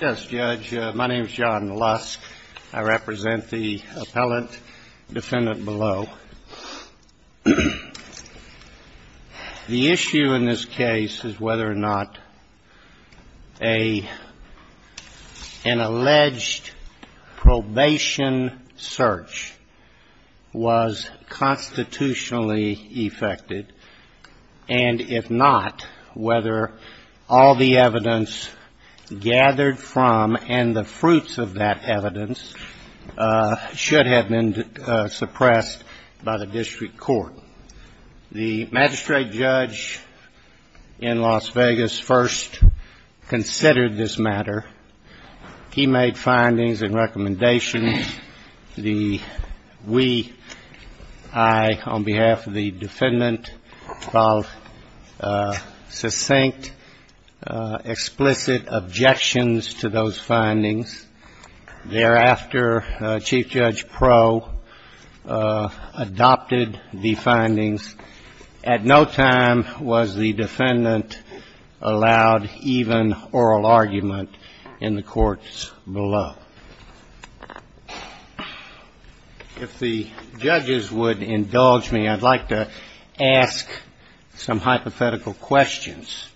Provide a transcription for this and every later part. Yes, Judge. My name is John Lusk. I represent the appellant defendant below. The issue in this case is whether or not an alleged probation search was constitutionally effected, and if not, whether all the evidence gathered from and the fruits of that evidence should have been suppressed by the district court. The magistrate judge in Las Vegas first considered this matter. He made findings and recommendations. The we, I, on behalf of the defendant, filed succinct, explicit objections to those findings. Thereafter, Chief Judge Proe adopted the findings. At no time was the defendant allowed even oral argument in the courts below. If the judges would indulge me, I'd like to ask some hypothetical questions.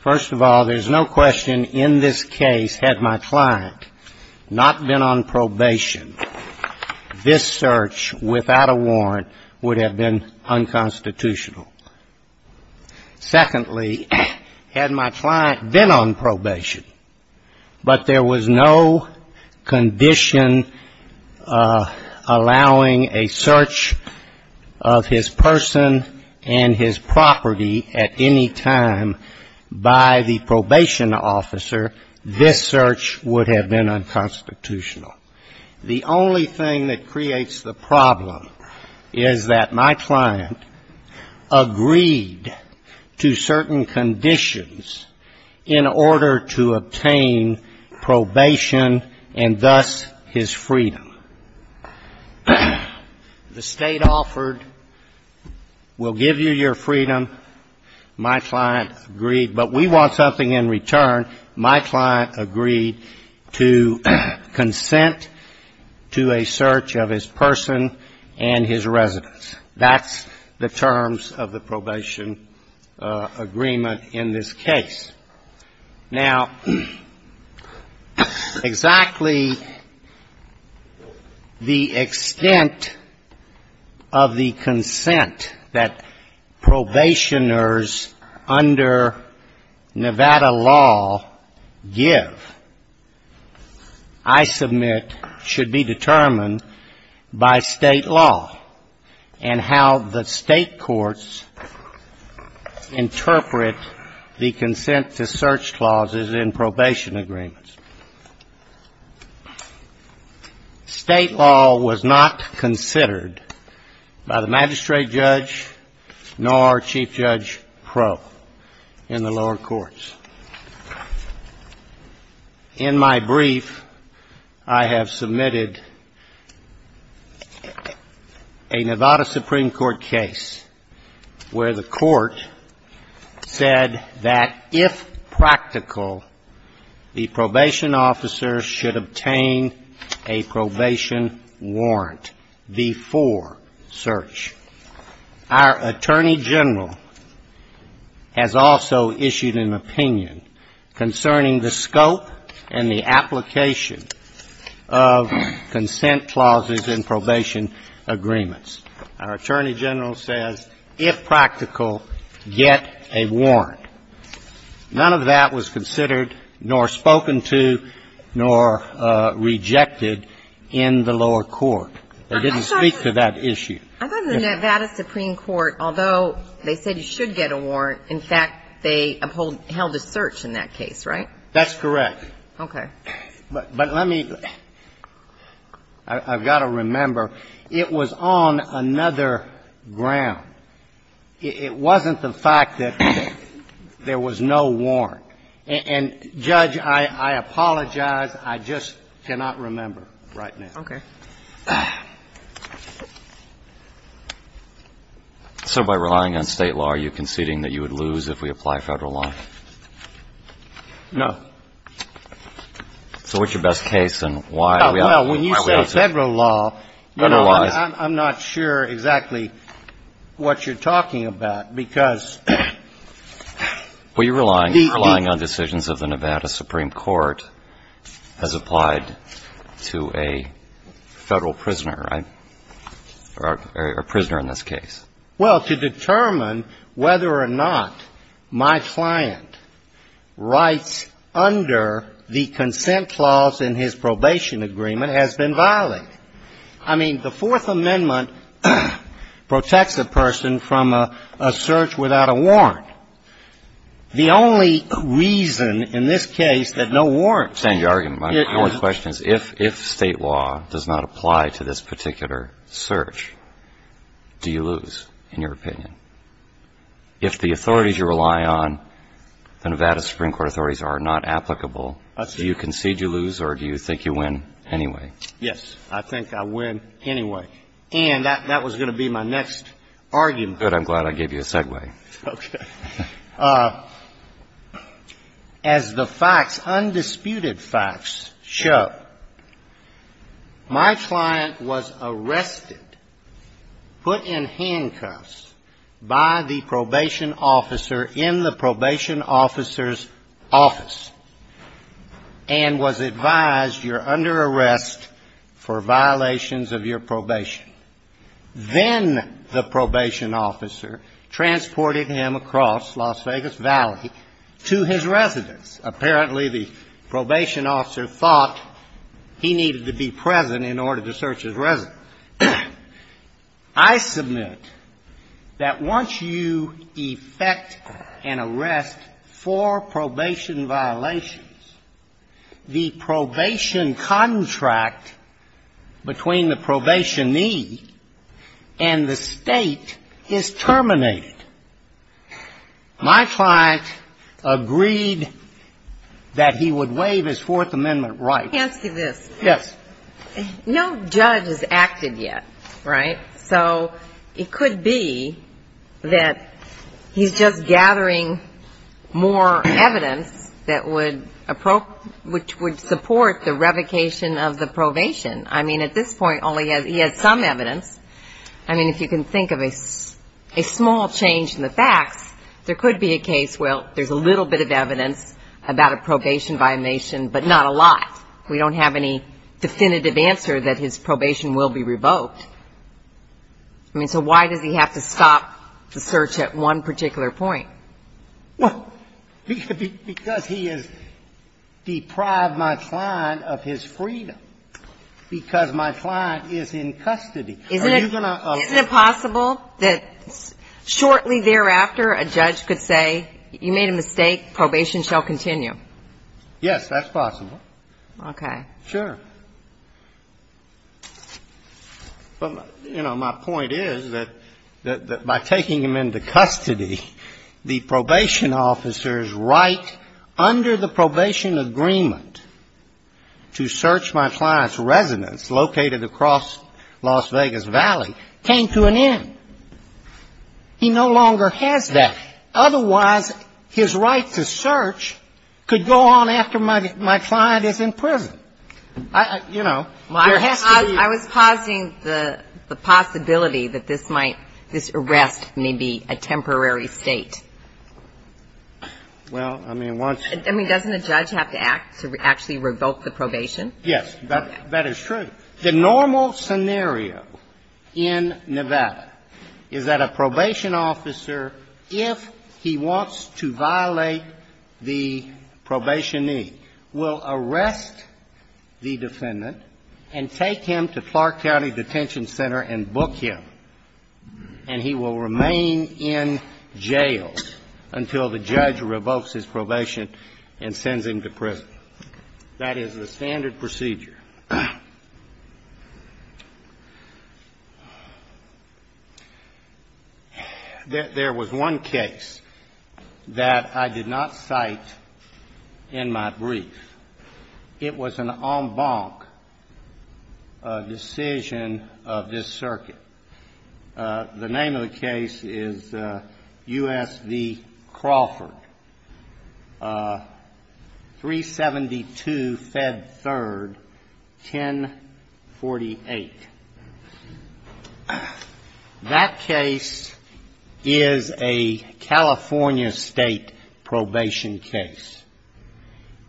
First of all, there's no question in this case, had my client not been on probation, this search without a warrant would have been unconstitutional. Secondly, had my client been on probation, but there was no condition allowing a search of his person and his property at any time by the probation officer, this search would have been unconstitutional. The only thing that creates the problem is that my client agreed to certain conditions in order to obtain probation and thus his freedom. The State offered, we'll give you your freedom, my client agreed, but we want something in return. My client agreed to consent to a search of his person and his residence. That's the terms of the probation agreement in this case. Now, exactly the extent of the consent that probationers under Nevada law give, I submit, should be determined by State law and how the State courts interpret the consent of probation officers. State law was not considered by the magistrate judge nor chief judge pro in the lower courts. In my brief, I have submitted a Nevada Supreme Court case where the court said that if my client agreed to a search of his person and his residence, he would be granted probation. If practical, the probation officer should obtain a probation warrant before search. Our attorney general has also issued an opinion concerning the scope and the application of consent clauses in probation agreements. Our attorney general says, if practical, get a warrant. None of that was considered nor spoken to nor rejected in the lower court. They didn't speak to that issue. I thought the Nevada Supreme Court, although they said you should get a warrant, in fact, they held a search in that case, right? That's correct. Okay. But let me – I've got to remember, it was on another ground. It wasn't the fact that there was no warrant. And, Judge, I apologize. I just cannot remember right now. Okay. So by relying on State law, are you conceding that you would lose if we apply Federal law? No. So what's your best case and why? Well, when you say Federal law, you know, I'm not sure exactly what you're talking about because the – Well, you're relying on decisions of the Nevada Supreme Court as applied to a Federal prisoner, right? Or a prisoner in this case. Well, to determine whether or not my client writes under the consent clause in his probation agreement has been violated. I mean, the Fourth Amendment protects a person from a search without a warrant. The only reason in this case that no warrant – I understand your argument. My question is, if State law does not apply to this particular search, do you lose, in your opinion? If the authorities you rely on, the Nevada Supreme Court authorities, are not applicable, do you concede you lose or do you think you win anyway? Yes. I think I win anyway. And that was going to be my next argument. Good. I'm glad I gave you a segue. Okay. As the facts, undisputed facts show, my client was arrested, put in handcuffs by the probation officer in the probation officer's office and was advised, you're under arrest for violations of your probation. Then the probation officer transported him across Las Vegas Valley to his residence. Apparently, the probation officer thought he needed to be present in order to search his residence. I submit that once you effect an arrest for probation violations, the probation contract between the probationee and the State is terminated. My client agreed that he would waive his Fourth Amendment rights. Let me ask you this. Yes. No judge has acted yet, right? So it could be that he's just gathering more evidence that would support the revocation of the probation. I mean, at this point, he has some evidence. I mean, if you can think of a small change in the facts, there could be a case, well, there's a little bit of evidence about a probation violation, but not a lot. We don't have any definitive answer that his probation will be revoked. I mean, so why does he have to stop the search at one particular point? Well, because he has deprived my client of his freedom, because my client is in custody. Isn't it possible that shortly thereafter, a judge could say, you made a mistake, probation shall continue? Yes, that's possible. Okay. Sure. But, you know, my point is that by taking him into custody, the probation officers under the probation agreement to search my client's residence located across Las Vegas Valley came to an end. He no longer has that. Otherwise, his right to search could go on after my client is in prison. I was pausing the possibility that this might, this arrest may be a temporary State. Well, I mean, once. I mean, doesn't a judge have to act to actually revoke the probation? Yes. That is true. The normal scenario in Nevada is that a probation officer, if he wants to violate the probation need, will arrest the defendant and take him to Clark County Detention Center and book him. And he will remain in jail until the judge revokes his probation and sends him to prison. That is the standard procedure. There was one case that I did not cite in my brief. It was an en banc decision of this circuit. The name of the case is U.S. v. Crawford. 372 Fed 3rd, 1048. That case is a California State probation case.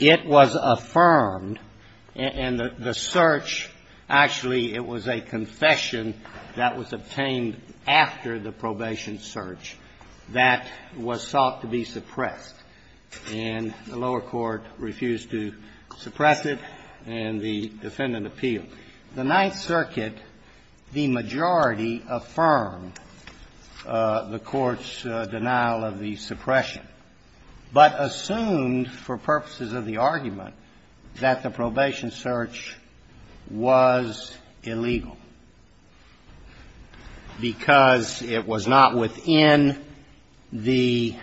It was affirmed, and the search, actually, it was a confession that was obtained after the probation search that was sought to be suppressed. And the lower court refused to suppress it, and the defendant appealed. The Ninth Circuit, the majority affirmed the court's denial of the suppression, but assumed, for purposes of the argument, that the probation search was illegal, because it was not within the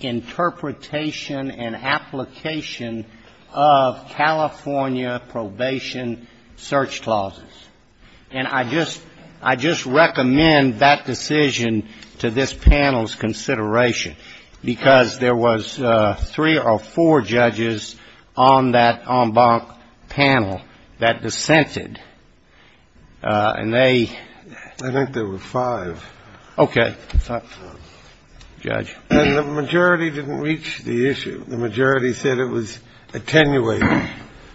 interpretation and application of California probation search clauses. And I just recommend that decision to this panel's consideration, because there was three or four judges, on that en banc panel, that dissented, and they ---- I think there were five. Okay. Judge. And the majority didn't reach the issue. The majority said it was attenuated.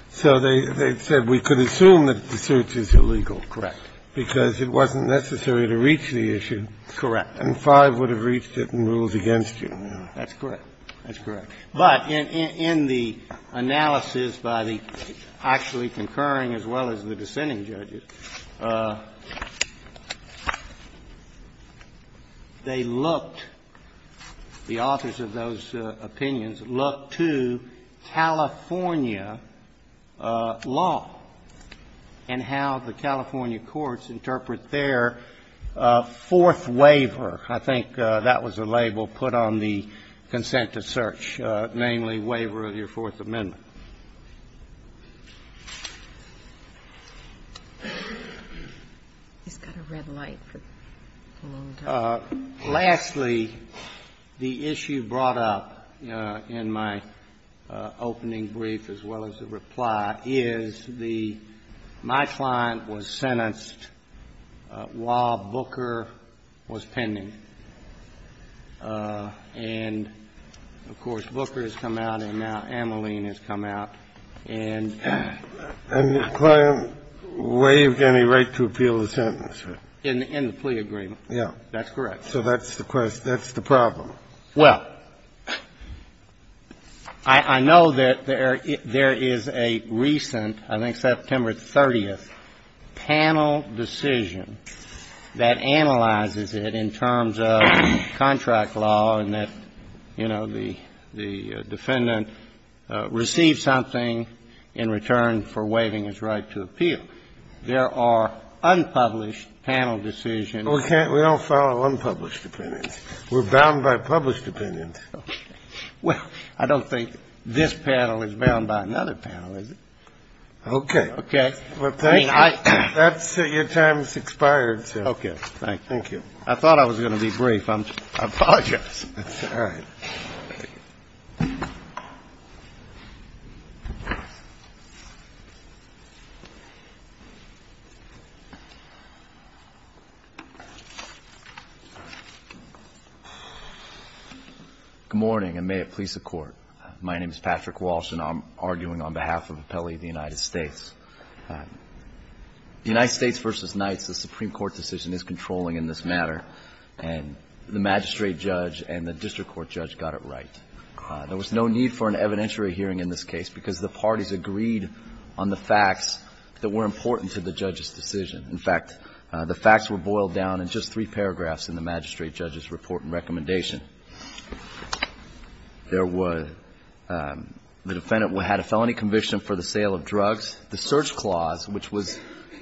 So they said we could assume that the search is illegal. Correct. Because it wasn't necessary to reach the issue. Correct. And five would have reached it and ruled against you. That's correct. That's correct. But in the analysis by the actually concurring as well as the dissenting judges, they looked, the authors of those opinions, looked to California law and how the California courts interpret their fourth waiver. I think that was the label put on the consent to search, namely, waiver of your Fourth Amendment. He's got a red light for a long time. Lastly, the issue brought up in my opening brief, as well as the reply, is the my client was sentenced while Booker was pending. And, of course, Booker has come out and now Ameline has come out and ---- And the client waived any right to appeal the sentence. In the plea agreement. That's correct. So that's the question. That's the problem. Well, I know that there is a recent, I think September 30th, panel decision that analyzes it in terms of contract law and that, you know, the defendant receives something in return for waiving his right to appeal. There are unpublished panel decisions. Well, we don't follow unpublished opinions. We're bound by published opinions. Well, I don't think this panel is bound by another panel, is it? Okay. Okay. Well, thank you. Your time has expired, sir. Okay. Thank you. I thought I was going to be brief. I apologize. All right. Good morning, and may it please the Court. My name is Patrick Walsh, and I'm arguing on behalf of Appellee of the United States. United States v. Knights, the Supreme Court decision is controlling in this matter, and the magistrate judge and the district court judge got it right. There was no need for an evidentiary hearing in this case because the parties agreed on the facts that were important to the judge's decision. In fact, the facts were boiled down in just three paragraphs in the magistrate judge's report and recommendation. There were the defendant had a felony conviction for the sale of drugs. The search clause, which was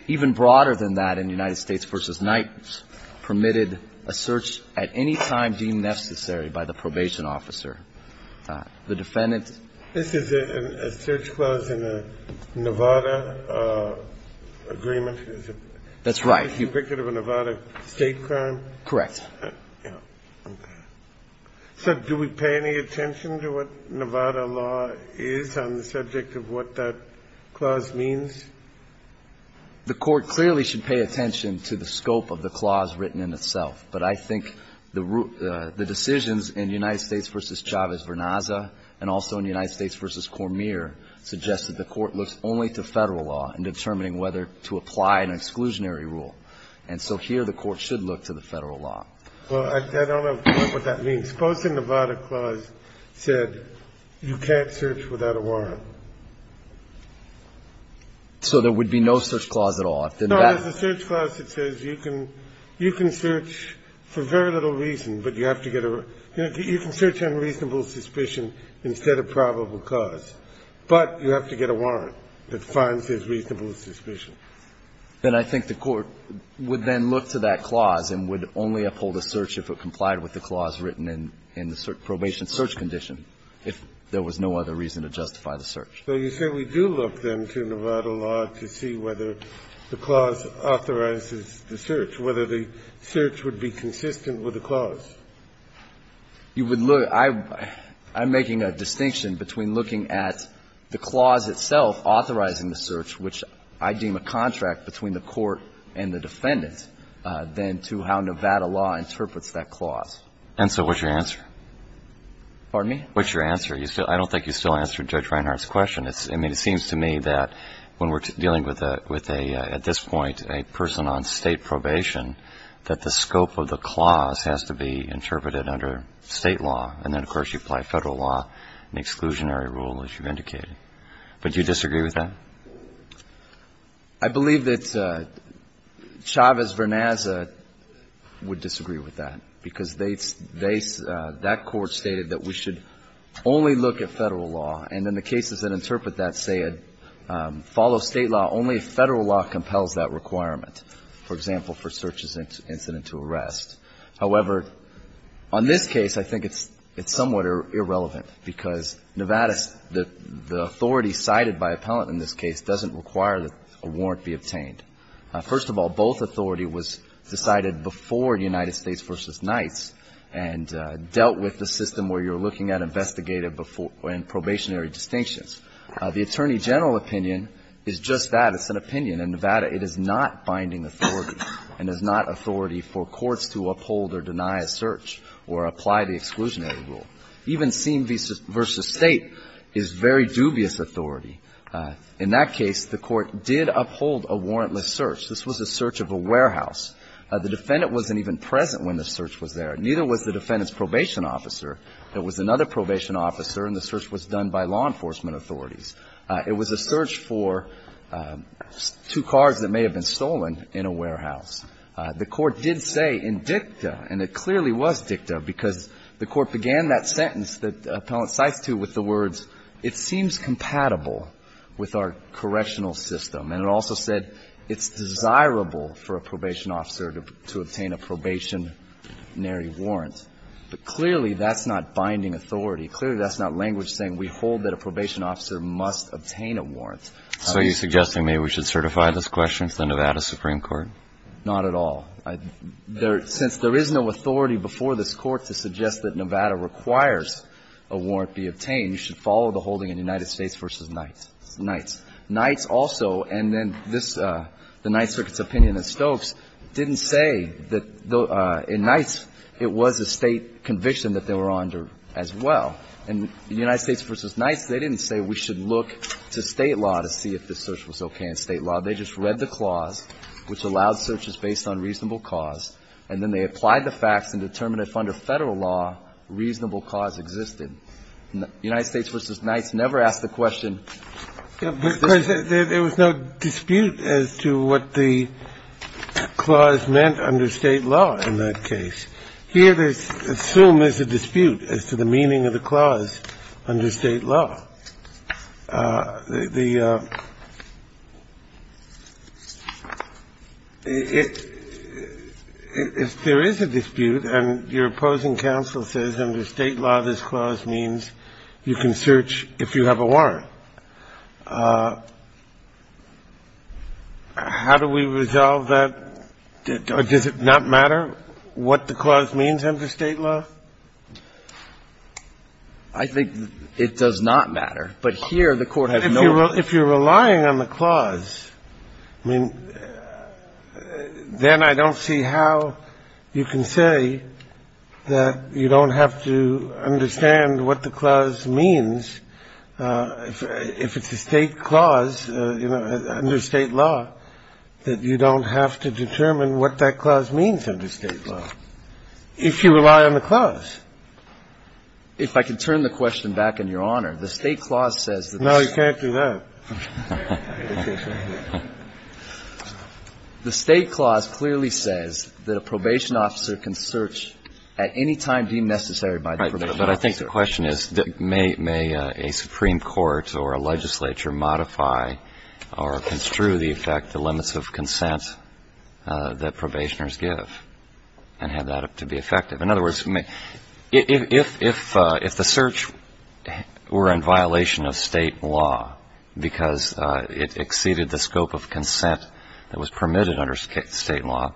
even broader than that in United States v. Knights, permitted a search at any time deemed necessary by the probation officer. The defendant ---- This is a search clause in a Nevada agreement. That's right. Is it a Nevada state crime? Correct. Okay. So do we pay any attention to what Nevada law is on the subject of what that clause means? The court clearly should pay attention to the scope of the clause written in itself, but I think the decisions in United States v. Chavez-Vernaza and also in United States v. Cormier suggest that the court looks only to Federal law in determining whether to apply an exclusionary rule. And so here the court should look to the Federal law. Well, I don't know what that means. I suppose the Nevada clause said you can't search without a warrant. So there would be no search clause at all? No, there's a search clause that says you can search for very little reason, but you have to get a ---- you can search on reasonable suspicion instead of probable cause, but you have to get a warrant that finds it reasonable suspicion. Then I think the court would then look to that clause and would only uphold a search if it complied with the clause written in the probation search condition, if there was no other reason to justify the search. So you say we do look, then, to Nevada law to see whether the clause authorizes the search, whether the search would be consistent with the clause? You would look at the clause itself authorizing the search, which I deem a contract between the court and the defendant than to how Nevada law interprets that clause. And so what's your answer? Pardon me? What's your answer? I don't think you still answered Judge Reinhart's question. I mean, it seems to me that when we're dealing with a ---- at this point a person on State probation, that the scope of the clause has to be interpreted under State law, and then, of course, you apply Federal law, an exclusionary rule, as you've indicated. But do you disagree with that? I believe that Chavez-Vernaza would disagree with that, because they ---- that court stated that we should only look at Federal law. And in the cases that interpret that say it follows State law, only Federal law compels that requirement, for example, for search incident to arrest. However, on this case, I think it's somewhat irrelevant, because Nevada's ---- the authority cited by appellant in this case doesn't require that a warrant be obtained. First of all, both authority was decided before United States v. Knights and dealt with the system where you're looking at investigative and probationary distinctions. The Attorney General opinion is just that. It's an opinion. In Nevada, it is not binding authority and is not authority for courts to uphold or deny a search or apply the exclusionary rule. Even Sim v. State is very dubious authority. In that case, the Court did uphold a warrantless search. This was a search of a warehouse. The defendant wasn't even present when the search was there. Neither was the defendant's probation officer. There was another probation officer, and the search was done by law enforcement authorities. It was a search for two cars that may have been stolen in a warehouse. The Court did say in dicta, and it clearly was dicta, because the Court began that sentence that Appellant cites, too, with the words, it seems compatible with our correctional system. And it also said it's desirable for a probation officer to obtain a probationary warrant. But clearly, that's not binding authority. Clearly, that's not language saying we hold that a probation officer must obtain a warrant. So you're suggesting maybe we should certify this question to the Nevada Supreme Court? Not at all. Since there is no authority before this Court to suggest that Nevada requires a warrant be obtained, you should follow the holding in United States v. Knights. Knights also, and then this, the Knight Circuit's opinion in Stokes, didn't say that in Knights it was a State conviction that they were under as well. In United States v. Knights, they didn't say we should look to State law to see if the search was okay in State law. They just read the clause, which allowed searches based on reasonable cause, and then they applied the facts and determined if under Federal law, reasonable cause existed. United States v. Knights never asked the question. Kennedy. There was no dispute as to what the clause meant under State law in that case. Here, there's assumed there's a dispute as to the meaning of the clause under State law. The – if there is a dispute and your opposing counsel says under State law this clause means you can search if you have a warrant, how do we resolve that? Does it not matter what the clause means under State law? I think it does not matter, but here the Court has no – If you're relying on the clause, then I don't see how you can say that you don't have to understand what the clause means if it's a State clause, you know, under State law, that you don't have to determine what that clause means under State law. If you rely on the clause. If I could turn the question back, Your Honor. The State clause says that the – No, you can't do that. The State clause clearly says that a probation officer can search at any time deemed necessary by the probation officer. Right. But I think the question is, may a Supreme Court or a legislature modify or construe the effect, the limits of consent that probationers give and have that to be effective? In other words, if the search were in violation of State law because it exceeded the scope of consent that was permitted under State law,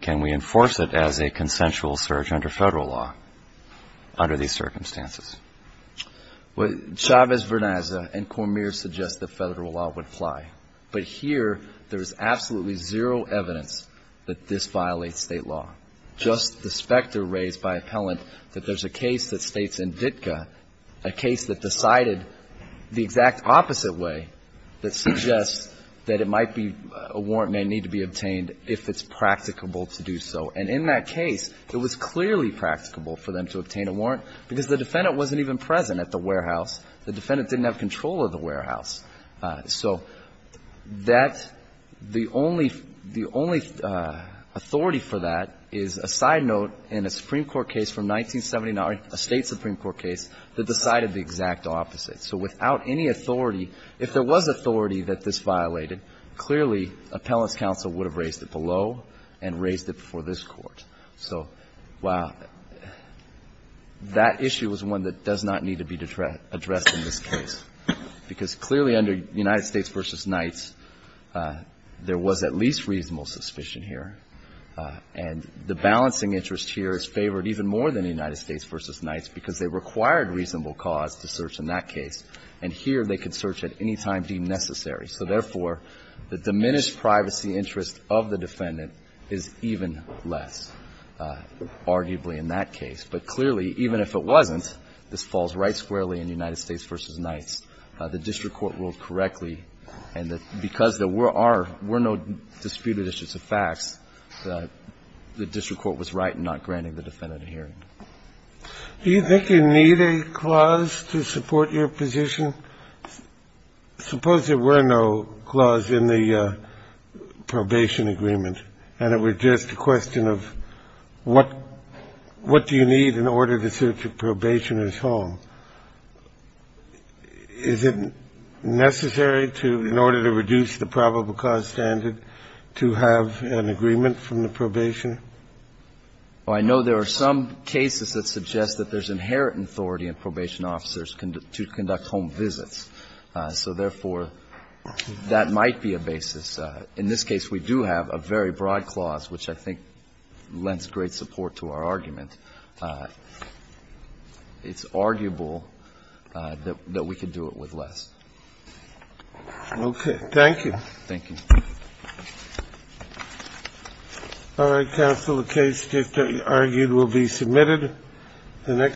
can we enforce it as a consensual search under Federal law under these circumstances? Well, Chavez-Vernaza and Cormier suggest that Federal law would apply. But here, there is absolutely zero evidence that this violates State law. Just the specter raised by appellant that there's a case that states in Ditka, a case that decided the exact opposite way that suggests that it might be a warrant may need to be obtained if it's practicable to do so. And in that case, it was clearly practicable for them to obtain a warrant because the defendant wasn't even present at the warehouse. The defendant didn't have control of the warehouse. So that's the only authority for that is a side note in a Supreme Court case from 1979, a State Supreme Court case, that decided the exact opposite. So without any authority, if there was authority that this violated, clearly, appellant's counsel would have raised it below and raised it before this Court. So, wow. That issue is one that does not need to be addressed in this case, because clearly under United States v. Knights, there was at least reasonable suspicion here. And the balancing interest here is favored even more than United States v. Knights because they required reasonable cause to search in that case. And here, they could search at any time deemed necessary. So therefore, the diminished privacy interest of the defendant is even less. Arguably in that case. But clearly, even if it wasn't, this falls right squarely in United States v. Knights. The district court ruled correctly. And because there were no disputed issues of facts, the district court was right in not granting the defendant a hearing. Do you think you need a clause to support your position? Suppose there were no clause in the probation agreement and it was just a question of what do you need in order to search a probationer's home? Is it necessary to, in order to reduce the probable cause standard, to have an agreement from the probationer? I know there are some cases that suggest that there's inherent authority in probation officers to conduct home visits. So therefore, that might be a basis. In this case, we do have a very broad clause, which I think lends great support to our argument. It's arguable that we could do it with less. Okay. Thank you. Thank you. All right, counsel. The case, as you argued, will be submitted.